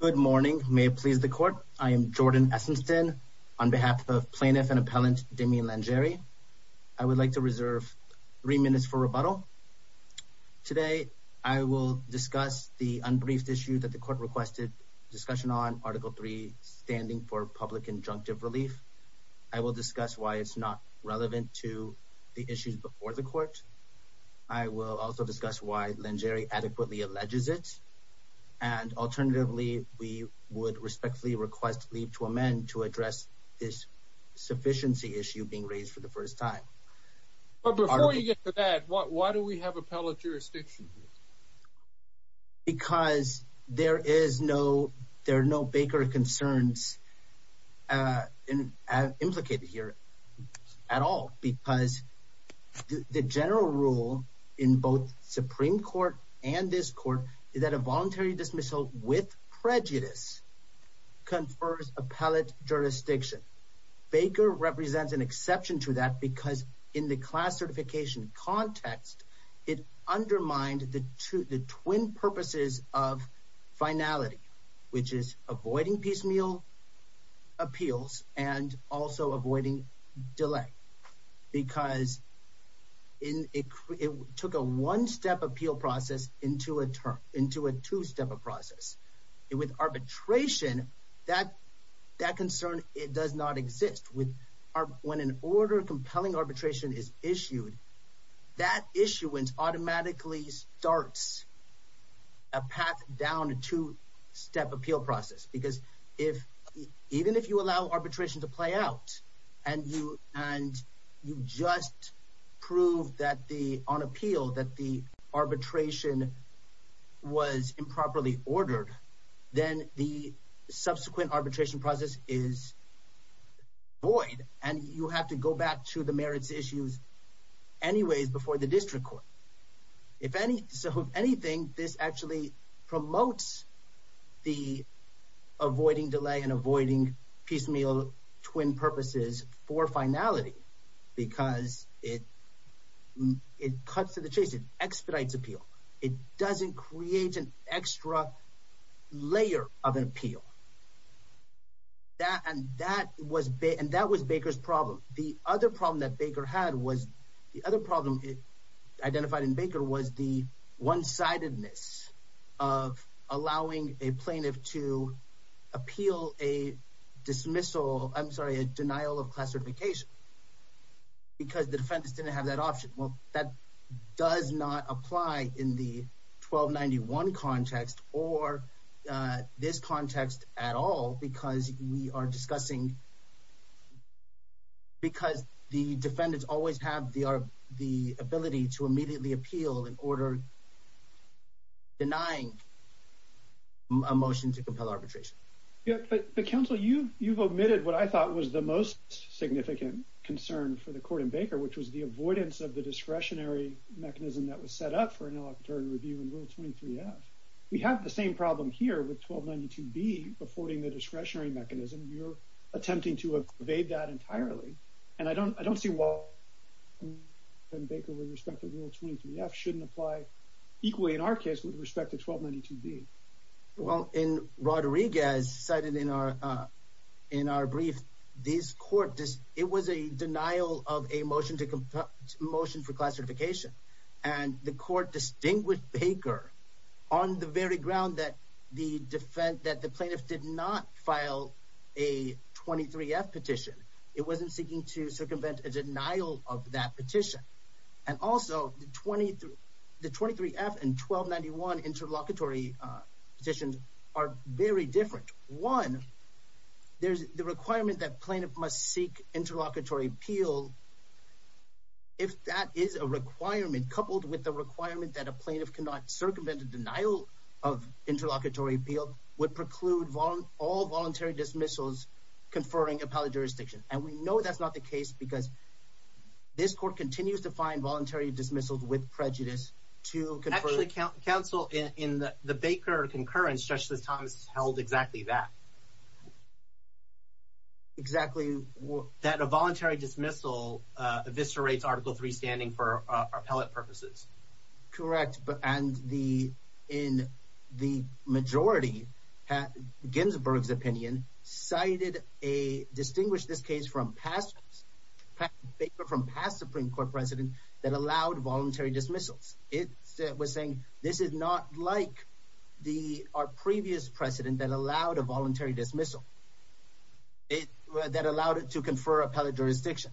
Good morning. May it please the court. I am Jordan Essington on behalf of Plaintiff and Appellant Damian Langere. I would like to reserve three minutes for rebuttal. Today I will discuss the unbriefed issue that the court requested discussion on Article 3, standing for public injunctive relief. I will discuss why it's not relevant to the issues before the court. I will also discuss why Langere adequately alleges it. And alternatively, we would respectfully request leave to amend to address this sufficiency issue being raised for the first time. But before you get to that, why do we have appellate jurisdiction? Because there are no Baker concerns implicated here at all. Because the general rule in both Supreme Court and this court is that a voluntary dismissal with prejudice confers appellate jurisdiction. Baker represents an exception to that because in the class certification context, it undermined the twin purposes of finality, which is avoiding piecemeal appeals and also avoiding delay. Because it took a one-step appeal process into a two-step process. With arbitration, that concern does not exist. When an order compelling arbitration is issued, that issuance automatically starts a path down to step appeal process. Because if even if you allow arbitration to play out, and you and you just prove that the on appeal that the arbitration was improperly ordered, then the subsequent arbitration process is void. And you have to go back to the merits issues. Anyways, before the district court, if any, so if anything, this actually promotes the avoiding delay and avoiding piecemeal twin purposes for finality, because it, it cuts to the chase, it expedites appeal, it doesn't create an extra layer of an other problem that Baker had was the other problem identified in Baker was the one sidedness of allowing a plaintiff to appeal a dismissal, I'm sorry, a denial of class certification. Because the defense didn't have that option. Well, that does not apply in the 1291 context or this context at all, because we are discussing because the defendants always have the are the ability to immediately appeal in order denying a motion to compel arbitration. Yeah, but the council you you've omitted what I thought was the most significant concern for the court in Baker, which was the avoidance of the discretionary mechanism that was set up for an electoral 23. We have the same problem here with 1292 be affording the discretionary mechanism, you're attempting to evade that entirely. And I don't I don't see why Baker with respect to rule 23 f shouldn't apply equally in our case with respect to 1292 be well in Rodriguez cited in our in our brief, this court this it was a denial of a motion to compel motion for class certification. And the court distinguished Baker on the very ground that the defense that the plaintiff did not file a 23 F petition, it wasn't seeking to circumvent a denial of that petition. And also the 23 the 23 F and 1291 interlocutory petitions are very different. One, there's the requirement that plaintiff must seek interlocutory appeal. If that is a requirement coupled with the requirement that a plaintiff cannot circumvent a denial of interlocutory appeal would preclude all voluntary dismissals, conferring appellate jurisdiction. And we know that's not the case, because this court continues to find voluntary dismissals with prejudice to counsel in the Baker concurrence, especially as Thomas held exactly that. Exactly what that a voluntary dismissal eviscerates Article Three standing for appellate purposes. Correct. But and the in the majority had Ginsburg's opinion cited a distinguished this case from past paper from past Supreme Court precedent that allowed voluntary dismissals. It was saying this is not like the our previous precedent that allowed a voluntary dismissal. It that allowed it to confer appellate jurisdiction.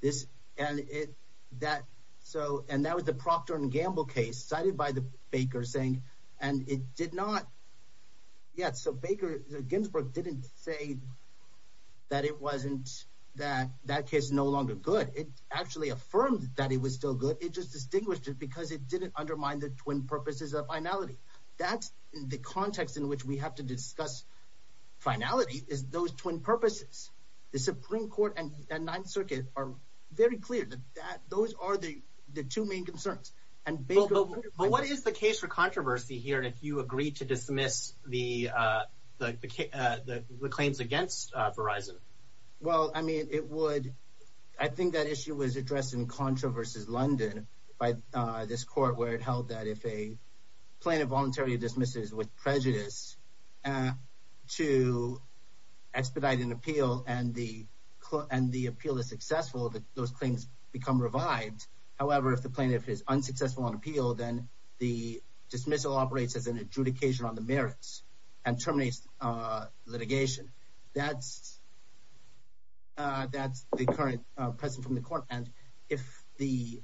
This and it that so and that was the Procter and Gamble case cited by the Baker saying and it did not yet. So Baker Ginsburg didn't say that it wasn't that that case no longer good. It actually affirmed that it was still good. It just distinguished it because it didn't undermine the twin purposes of finality. That's the context in which we have to discuss finality is those twin purposes. The Supreme Court and Ninth Circuit are very clear that that those are the the two main concerns and Baker. But what is the case for controversy here? And if you agree to dismiss the the the claims against Verizon? Well, I mean, it would I think that issue was addressed in Contra versus London by this court where it held that if a plaintiff voluntary dismisses with prejudice to expedite an appeal and the and the appeal is successful that those claims become revived. However, if the plaintiff is unsuccessful on appeal, then the dismissal operates as an adjudication on the merits and terminates litigation. That's that's the current president from the court. And if the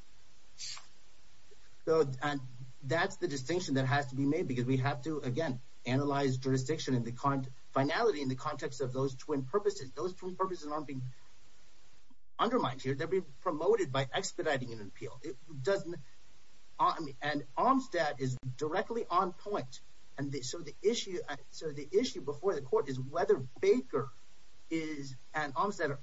though, and that's the distinction that has to be made, because we have to, again, analyze jurisdiction in the current finality in the context of those twin purposes, those two purposes are being undermined here, they're being promoted by expediting an appeal. It doesn't. And Armstead is directly on point. And so the issue. So the issue before the court is whether Baker is an arms that are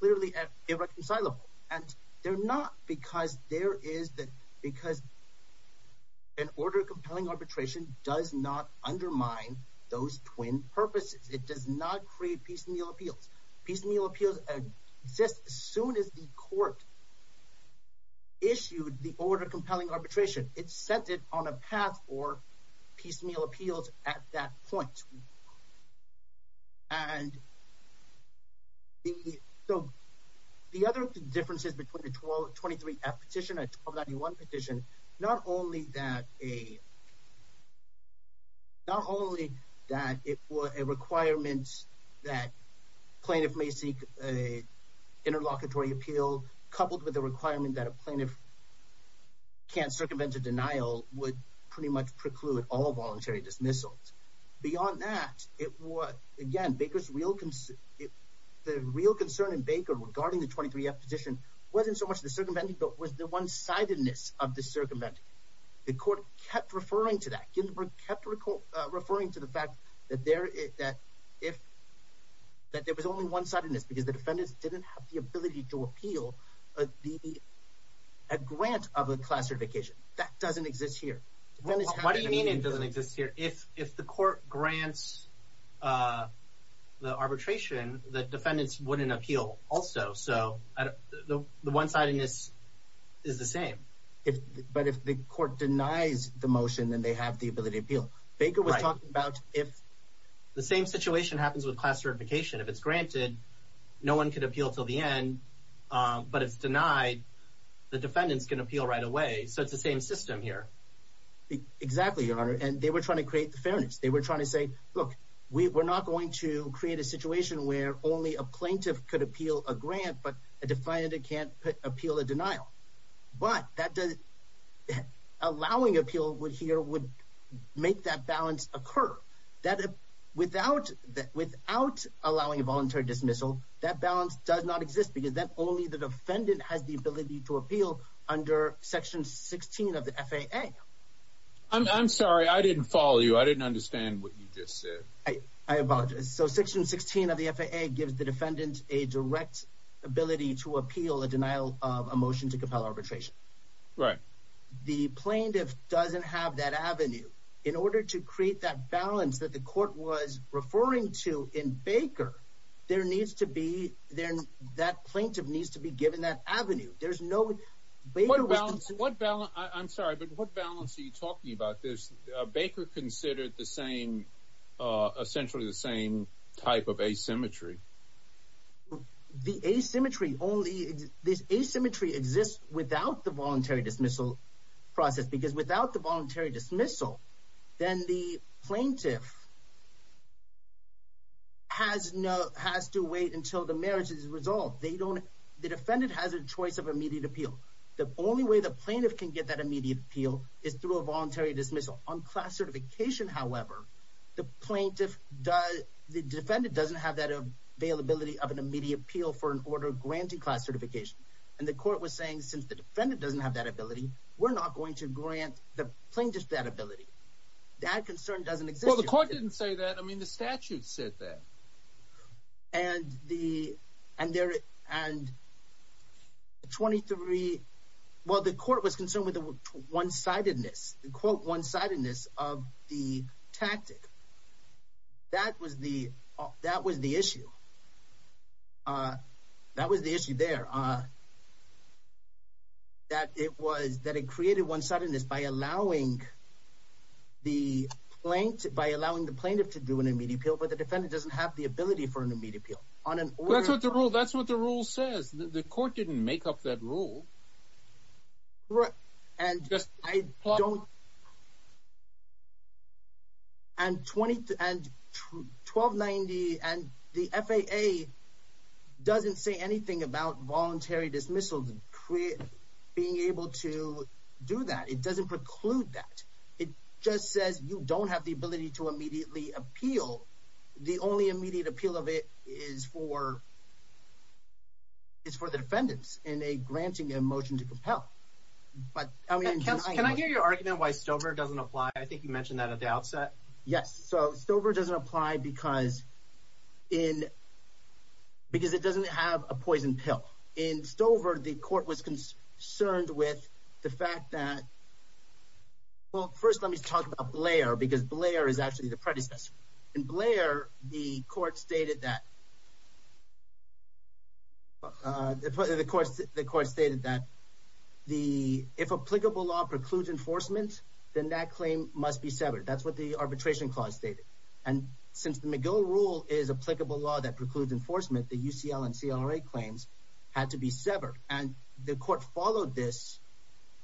clearly irreconcilable. And they're not because there is that because an order compelling arbitration does not undermine those twin purposes. It does not create piecemeal appeals. piecemeal appeals exist as soon as the court issued the order compelling arbitration, it's set it on a path or piecemeal appeals at that point. And so the other differences between the 1223 F petition and 21 petition, not only that a not only that it was a requirement that plaintiff may seek a interlocutory appeal, coupled with the requirement that a plaintiff can't circumvent a denial would pretty much preclude all voluntary dismissals. Beyond that, it was again, Baker's real concern. The real concern and Baker regarding the 23 F petition wasn't so much the circumventing but was the one sidedness of the circumventing. The court kept referring to that Ginsburg kept referring to the fact that there is that if that there was only one sidedness because the defendants didn't have the ability to appeal the grant of a class certification that doesn't exist here. What do you mean it doesn't exist here if if the court grants the arbitration that defendants wouldn't appeal also so the one sidedness is the same if but if the court denies the motion then they have the ability to appeal. Baker was talking about if the same situation happens with class certification, if it's granted, no one could appeal till the end, but it's denied. The defendants can appeal right away. So it's the same system here. Exactly, Your Honor, and they were trying to create the fairness. They were trying to say, look, we're not going to create a situation where only a plaintiff could appeal a grant, but a defendant can't appeal a denial. But that does it. Allowing appeal would here would make that balance occur that without without allowing a voluntary dismissal, that balance does not exist because that only the defendant has the ability to appeal under Section 16 of the FAA. I'm sorry, I didn't follow you. I didn't understand what you just said. I apologize. So Section 16 of the FAA gives the defendant a direct ability to appeal a denial of a motion to compel arbitration, right? The plaintiff doesn't have that avenue in order to create that balance that the court was referring to in Baker. There needs to be there. That plaintiff needs to be given that avenue. There's no way to balance. What balance? I'm sorry, but what balance are you talking about? This Baker considered the same, essentially the same type of asymmetry. The asymmetry only this asymmetry exists without the voluntary dismissal process because without the voluntary dismissal, then the plaintiff has no has to wait until the marriage is resolved. They don't the defendant has a choice of immediate appeal. The only way the plaintiff can get that immediate appeal is through a voluntary dismissal on class certification. However, the plaintiff does the defendant doesn't have that availability of an immediate appeal for an order granting class certification, and the court was saying, since the defendant doesn't have that ability, we're not going to grant the plaintiff that ability. That concern doesn't exist. Well, the court didn't say that. I mean, the statute said that. And the and there and 23. Well, the court was concerned with the one sidedness, the quote one sidedness of the tactic. That was the that was the issue. That was the issue there. That it was that it created one sidedness by allowing the plaintiff by allowing the plaintiff to do an immediate appeal, but the defendant doesn't have the ability for an immediate appeal on an order to rule. That's what the rule says. The court didn't make up that rule. Right. And I don't. And 20 and 1290 and the FAA doesn't say anything about voluntary dismissals and create being able to do that. It doesn't preclude that. It just says you don't have the ability to immediately appeal. The only immediate appeal of it is for. It's for the defendants in a granting a motion to compel, but I mean, can I hear your argument why Stover doesn't apply? I think you mentioned that at the outset. Yes. So Stover doesn't apply because in. Because it doesn't have a poison pill in Stover, the court was concerned with the fact that. Well, first, let me talk about Blair, because Blair is actually the predecessor in Blair. The court stated that. The if applicable law precludes enforcement, then that claim must be severed. That's what the arbitration clause stated. And since the McGill rule is applicable law that precludes enforcement, the UCL and CLA claims had to be severed. And the court followed this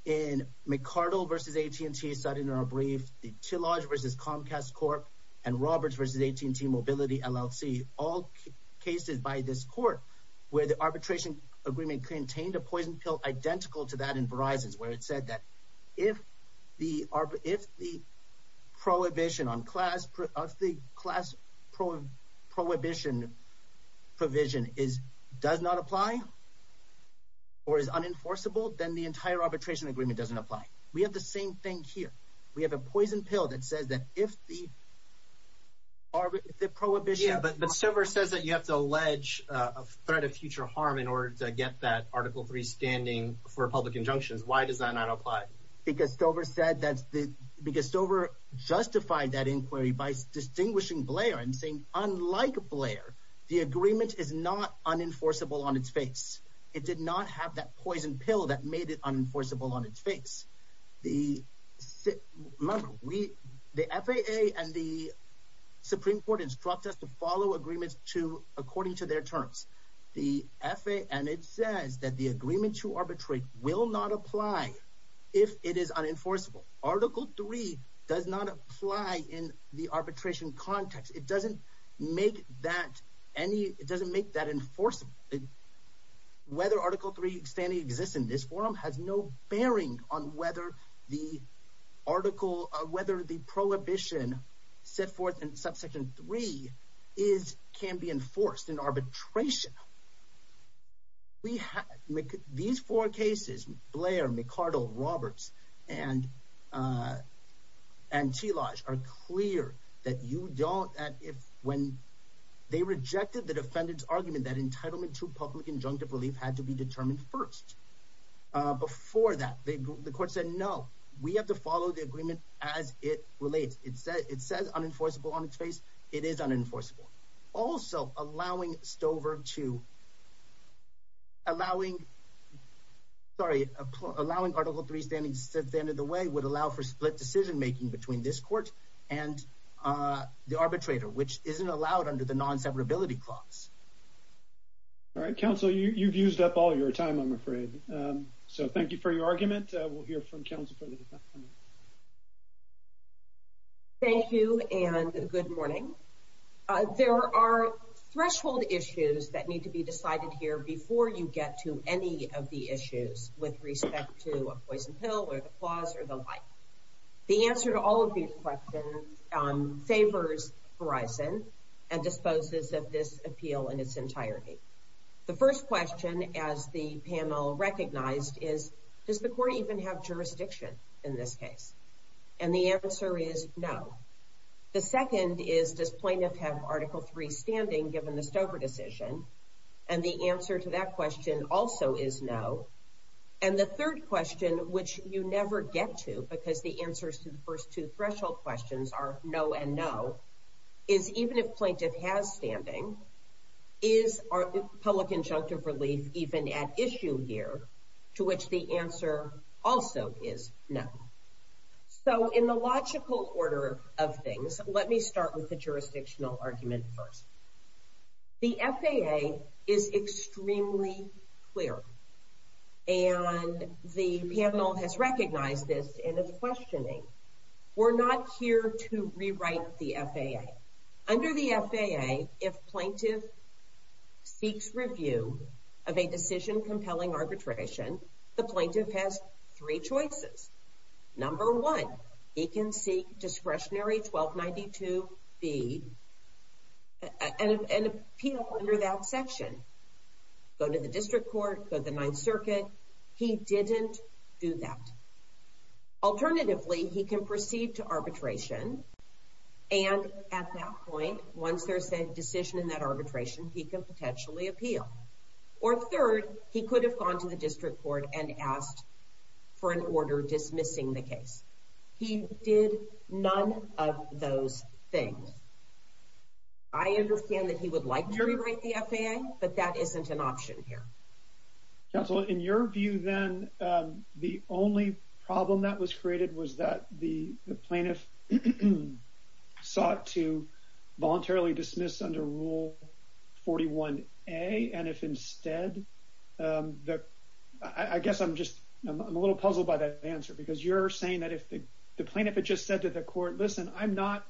in McCardell versus AT&T in our brief, the Tillage versus Comcast Corp and Roberts versus AT&T Mobility LLC, all cases by this court where the arbitration agreement contained a poison pill identical to that in Verizon's, where it said that if the if the prohibition on class of the class prohibition provision is does not apply. Or is unenforceable, then the entire arbitration agreement doesn't apply. We have the same thing here. We have a poison pill that says that if the. Or the prohibition, but the server says that you have to allege a threat of future harm in order to get that Article three standing for public injunctions, why does that not apply? Because Stover said that's the biggest over justified that inquiry by distinguishing Blair and saying, unlike Blair, the agreement is not unenforceable on its face. It did not have that poison pill that made it unenforceable on its face. The remember we the FAA and the Supreme Court instruct us to follow agreements to according to their terms. The FAA and it says that the agreement to arbitrate will not apply if it is unenforceable. Article three does not apply in the arbitration context. It doesn't make that any. It doesn't make that enforceable. Whether Article three standing exists in this forum has no bearing on whether the article or whether the prohibition set forth in subsection three is can be enforced in arbitration. We have these four cases, Blair, McArdle, Roberts and. And she lies are clear that you don't at if when they rejected the defendant's argument that entitlement to public injunctive relief had to be determined first. Before that, the court said no, we have to follow the agreement as it relates. It said it says unenforceable on its face. It is unenforceable. Also, allowing Stover to. Allowing. Sorry, allowing Article three standing said the end of the way would allow for split decision making between this court and the arbitrator, which isn't allowed under the non severability clause. All right, counsel, you've used up all your time, I'm afraid. So thank you for your argument. We'll hear from counsel. Thank you. And good morning. There are threshold issues that need to be decided here before you get to any of the issues with respect to disposes of this appeal in its entirety. The first question as the panel recognized is, does the court even have jurisdiction in this case? And the answer is no. The second is, does plaintiff have Article three standing given the Stover decision? And the answer to that question also is no. And the third question, which you never get to because the answers to the first two threshold questions are no and no, is even if plaintiff has standing, is public injunctive relief even at issue here, to which the answer also is no. So in the logical order of things, let me start with the jurisdictional argument first. The FAA is extremely clear. And the panel has recognized this and is questioning. We're not here to rewrite the FAA. Under the FAA, if plaintiff seeks review of a decision compelling arbitration, the plaintiff has three choices. Number one, he can seek discretionary 1292B and appeal under that section. Go to the district court, go to the ninth circuit. He didn't do that. Alternatively, he can proceed to arbitration. And at that point, once there's a decision in that arbitration, he can potentially appeal. Or third, he could have gone to the district court and asked for an order dismissing the case. He did none of those things. I understand that he would like to rewrite the FAA, but that isn't an option here. Counselor, in your view then, the only problem that was created was that the plaintiff sought to voluntarily dismiss under Rule 41A. And if instead, I guess I'm just a little puzzled by that answer, because you're saying that if the plaintiff had just said to the court, listen, I'm not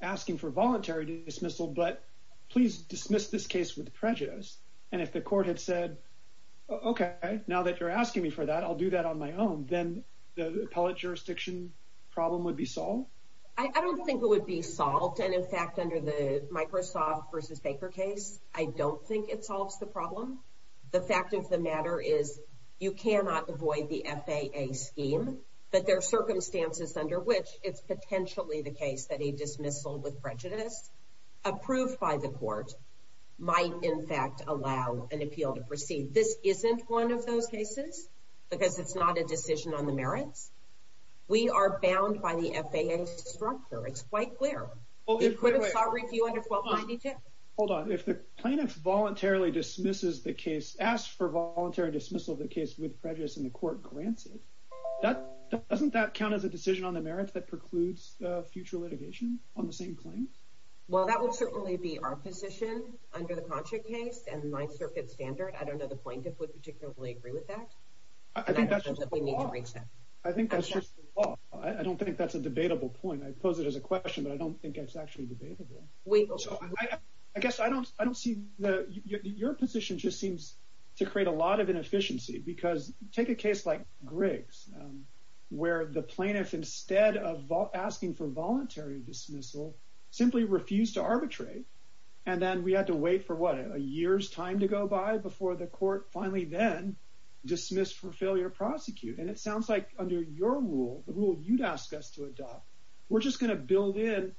asking for voluntary dismissal, but please dismiss this case with prejudice. And if the court had said, okay, now that you're asking me for that, I'll do that on my own, then the appellate jurisdiction problem would be solved? I don't think it would be solved. And in fact, under the Microsoft versus Baker case, I don't think it solves the problem. The fact of the matter is, you cannot avoid the FAA scheme, but there are circumstances under which it's in fact, allow an appeal to proceed. This isn't one of those cases, because it's not a decision on the merits. We are bound by the FAA structure. It's quite clear. Hold on, if the plaintiff voluntarily dismisses the case, asks for voluntary dismissal of the case with prejudice and the court grants it, doesn't that count as a decision on the merits that precludes future litigation on the same claim? Well, that would certainly be our position under the contract case and the Ninth Circuit standard. I don't know the plaintiff would particularly agree with that. I think that's just the law. I don't think that's a debatable point. I pose it as a question, but I don't think it's actually debatable. I guess I don't see your position just seems to create a lot of inefficiency because take a case like Griggs, where the plaintiff simply refused to arbitrate. And then we had to wait for what, a year's time to go by before the court finally then dismissed for failure to prosecute. And it sounds like under your rule, the rule you'd ask us to adopt, we're just going to build in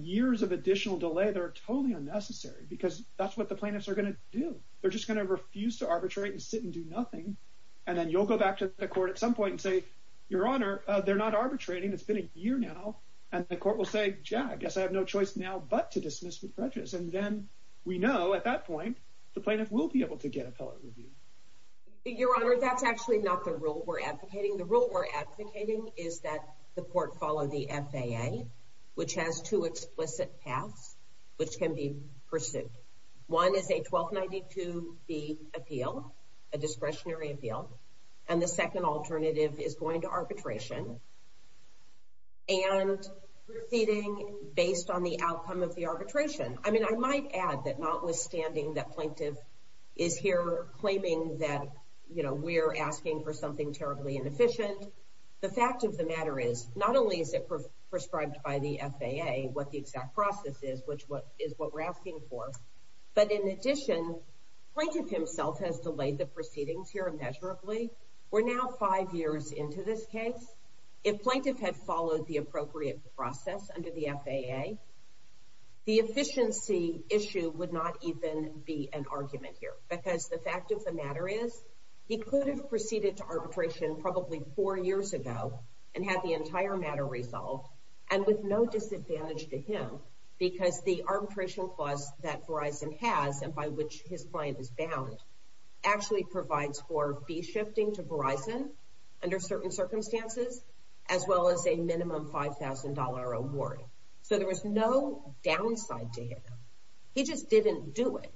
years of additional delay that are totally unnecessary, because that's what the plaintiffs are going to do. They're just going to refuse to arbitrate and sit and do nothing. And then you'll go back to the court at some point and say, Your Honor, they're not making a choice now, but to dismiss with prejudice. And then we know at that point, the plaintiff will be able to get appellate review. Your Honor, that's actually not the rule we're advocating. The rule we're advocating is that the court follow the FAA, which has two explicit paths, which can be pursued. One is a 1292B appeal, a discretionary appeal. And the second alternative is going to depend on the outcome of the arbitration. I mean, I might add that notwithstanding that plaintiff is here claiming that, you know, we're asking for something terribly inefficient. The fact of the matter is, not only is it prescribed by the FAA, what the exact process is, which is what we're asking for. But in addition, plaintiff himself has delayed the proceedings here immeasurably. We're now five years into this case. If plaintiff had followed the appropriate process under the FAA, the efficiency issue would not even be an argument here. Because the fact of the matter is, he could have proceeded to arbitration probably four years ago and had the entire matter resolved, and with no disadvantage to him, because the arbitration clause that Verizon has, and by which his client is bound, actually provides for fee shifting to Verizon under certain circumstances, as well as a minimum $5,000 award. So there was no downside to him. He just didn't do it.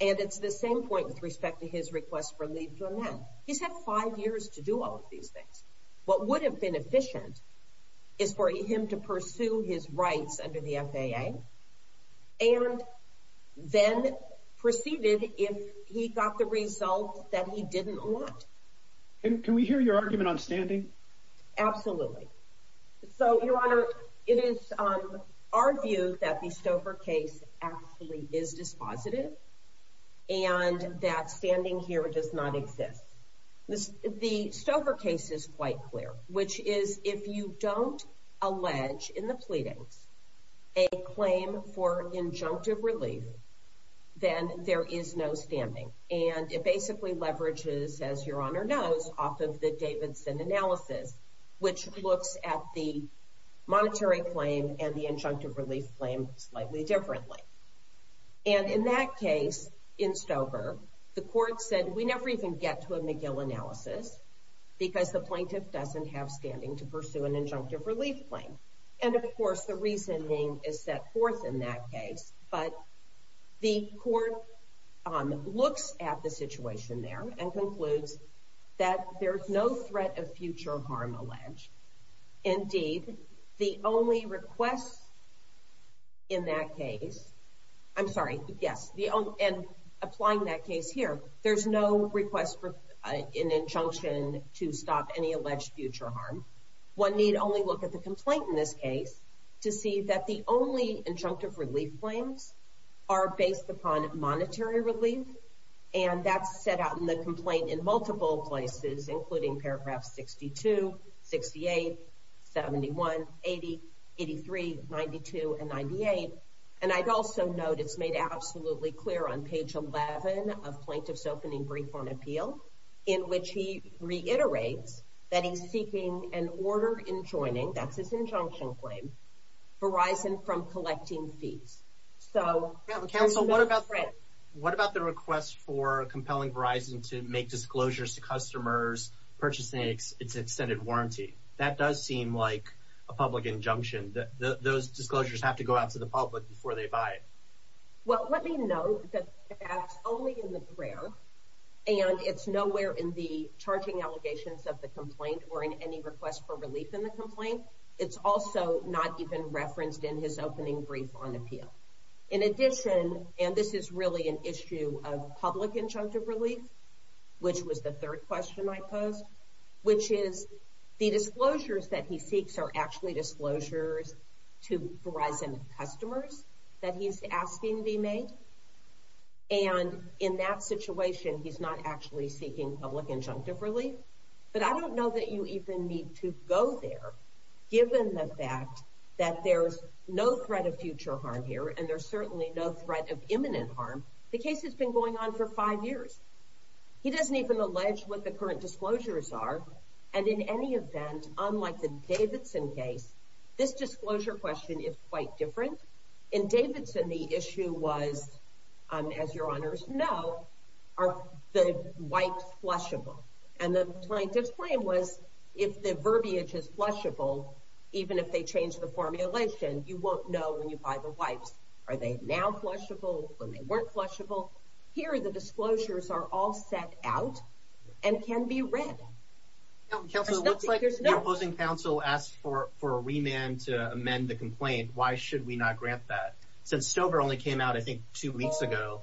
And it's the same point with respect to his request for leave to amend. He's had five years to do all of these things. What would have been efficient is for him to pursue his rights under the FAA, and then proceeded if he got the result that he didn't want. Can we hear your argument on standing? Absolutely. So, Your Honor, it is our view that the Stover case actually is dispositive, and that standing here does not exist. The Stover case is quite clear, which is if you don't allege in the pleadings a claim for injunctive relief, then there is no standing. And it basically leverages, as Your Honor knows, off of the Davidson analysis, which looks at the monetary claim and the injunctive relief claim slightly differently. And in that case, in Stover, the plaintiff doesn't have standing to pursue an injunctive relief claim. And of course, the reasoning is set forth in that case. But the court looks at the situation there and concludes that there's no threat of future harm alleged. Indeed, the only request in that case, I'm sorry, yes, and applying that case here, there's no request for an injunction to stop any alleged future harm. One need only look at the complaint in this case to see that the only injunctive relief claims are based upon monetary relief. And that's set out in the complaint in multiple places, including paragraphs 62, 68, 71, 80, 83, 92, and 98. And I'd also note it's made absolutely clear on page 11 of Plaintiff's Opening Brief on Appeal, in which he reiterates that he's seeking an order in joining, that's his injunction claim, Verizon from collecting fees. So... Counsel, what about the request for compelling Verizon to make disclosures to customers purchasing its extended warranty? That does seem like a public injunction. Those disclosures have to go out to the public before they buy it. Well, let me note that that's only in the prayer, and it's nowhere in the charging allegations of the complaint or in any request for relief in the complaint. It's also not even referenced in his Opening Brief on Appeal. In addition, and this is really an issue of public injunctive relief, which was the third question I posed, which is the asking be made? And in that situation, he's not actually seeking public injunctive relief. But I don't know that you even need to go there, given the fact that there's no threat of future harm here, and there's certainly no threat of imminent harm. The case has been going on for five years. He doesn't even allege what the current issue was, as your honors know, are the wipes flushable? And the plaintiff's claim was, if the verbiage is flushable, even if they change the formulation, you won't know when you buy the wipes. Are they now flushable, when they weren't flushable? Here, the disclosures are all set out and can be read. Counsel, it looks like the opposing counsel asked for a remand to amend the complaint. Why should we not grant that? Since Stover only came out, I think, two weeks ago,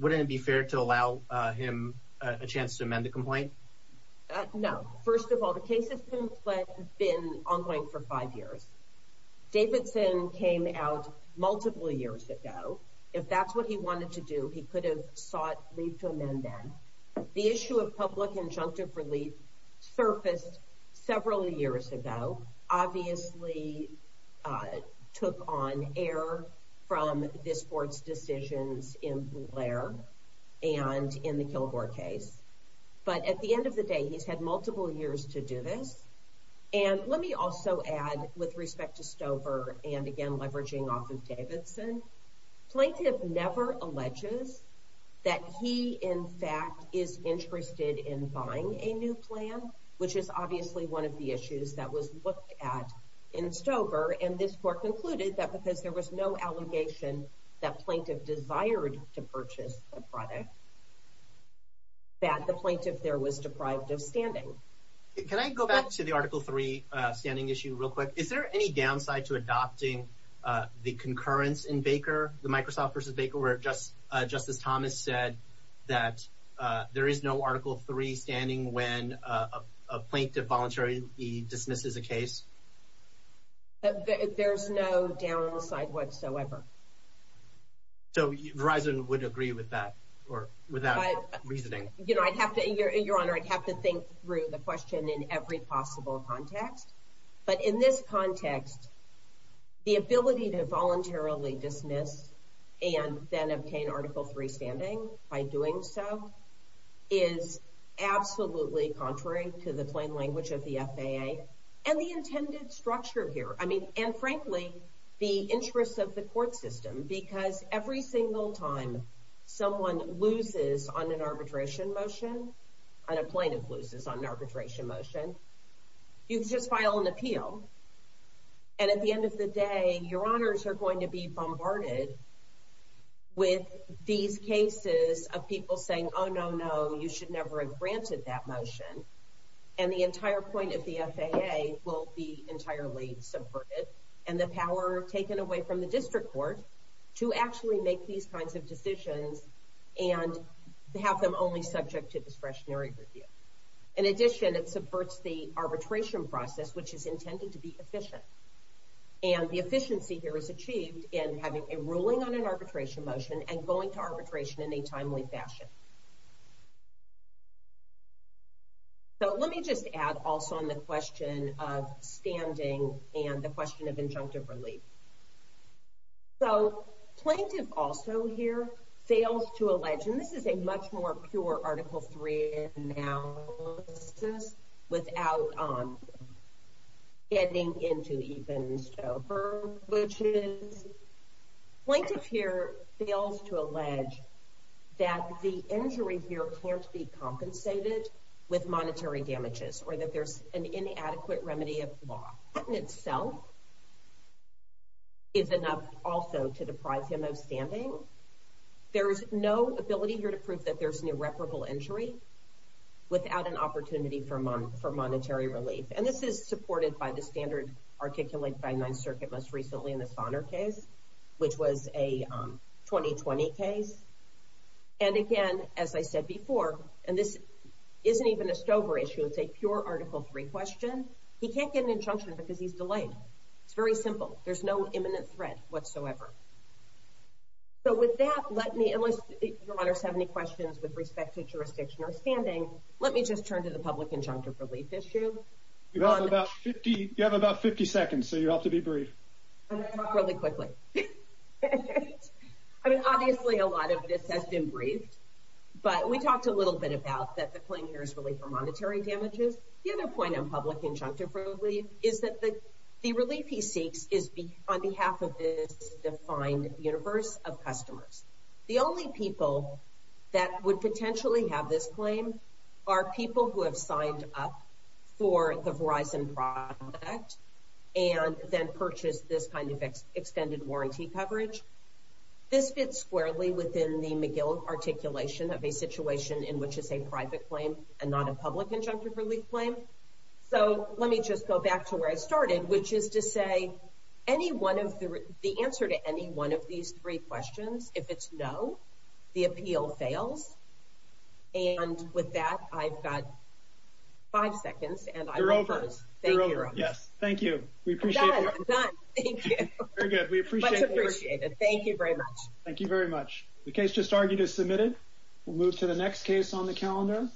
wouldn't it be fair to allow him a chance to amend the complaint? No. First of all, the case has been ongoing for five years. Davidson came out multiple years ago. If that's what he wanted to do, he could have sought leave to amend then. The issue of public injunctive relief surfaced several years ago, obviously took on air from this court's decisions in Blair and in the Kilgore case. But at the end of the day, he's had multiple years to do this. And let me also add, with respect to Stover and, again, leveraging off of Davidson, plaintiff never alleges that he, in fact, is interested in buying a new plan, which is obviously one of the issues that was looked at in Stover, and this court concluded that because there was no allegation that plaintiff desired to purchase the product, that the plaintiff there was deprived of standing. Can I go back to the Article 3 standing issue real quick? Is there any downside to adopting the concurrence in Baker, the Microsoft versus Baker, where Justice Thomas said that there is no Article 3 standing when a plaintiff voluntarily dismisses a case? There's no downside whatsoever. So Verizon would agree with that, or without reasoning? Your Honor, I'd have to think through the question in every possible context. But in this context, the ability to voluntarily dismiss and then obtain Article 3 standing by doing so is absolutely contrary to the plain language of the FAA and the intended structure here. And frankly, the interest of the court system, because every single time someone loses on an arbitration motion, and a plaintiff loses on an arbitration motion, you just file an appeal, and at the end of the day, your honors are going to be bombarded with these cases of people saying, oh, no, no, you should never have granted that motion. And the entire point of the FAA will be entirely subverted, and the power taken away from the district court to actually make these kinds of decisions and have them only subject to discretionary review. In addition, it subverts the arbitration process, which is intended to be efficient. And the efficiency here is achieved in having a ruling on an arbitration motion and going to arbitration in a timely fashion. So let me just add also on the question of standing and the question of injunctive relief. So, plaintiff also here fails to allege, and this is a much more pure Article 3 analysis without getting into even stober glitches. Plaintiff here fails to allege that the injury here can't be compensated with monetary damages or that there's an inadequate remedy of the law. The patent itself is enough also to deprive him of standing. There is no ability here to prove that there's an irreparable injury without an opportunity for monetary relief. And this is supported by the standard articulated by Ninth Circuit most recently in the Sonner case, which was a 2020 case. And again, as I said before, and this isn't even a stober issue, it's a pure Article 3 question. He can't get an injunction because he's delayed. It's very simple. There's no imminent threat whatsoever. So with that, unless your honors have any questions with respect to jurisdiction or standing, let me just turn to the public injunctive relief issue. You have about 50 seconds, so you have to be brief. I'm going to talk really quickly. I mean, obviously a lot of this has been briefed, but we talked a little bit about that the claim here is relief for monetary damages. The other point on public injunctive relief is that the relief he seeks is on behalf of this defined universe of customers. The only people that would potentially have this claim are people who have signed up for the Verizon product and then purchased this kind of extended warranty coverage. This fits squarely within the McGill articulation of a situation in which it's a private claim and not a public injunctive relief claim. So let me just go back to where I started, which is to say the answer to any one of these three questions, if it's no, the appeal fails. And with that, I've got five seconds. You're over. Yes, thank you. I'm done. Thank you. Much appreciated. Thank you very much. The case just argued is submitted. We'll move to the next case on the calendar,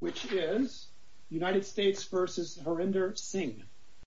which is United States v. Harinder Singh.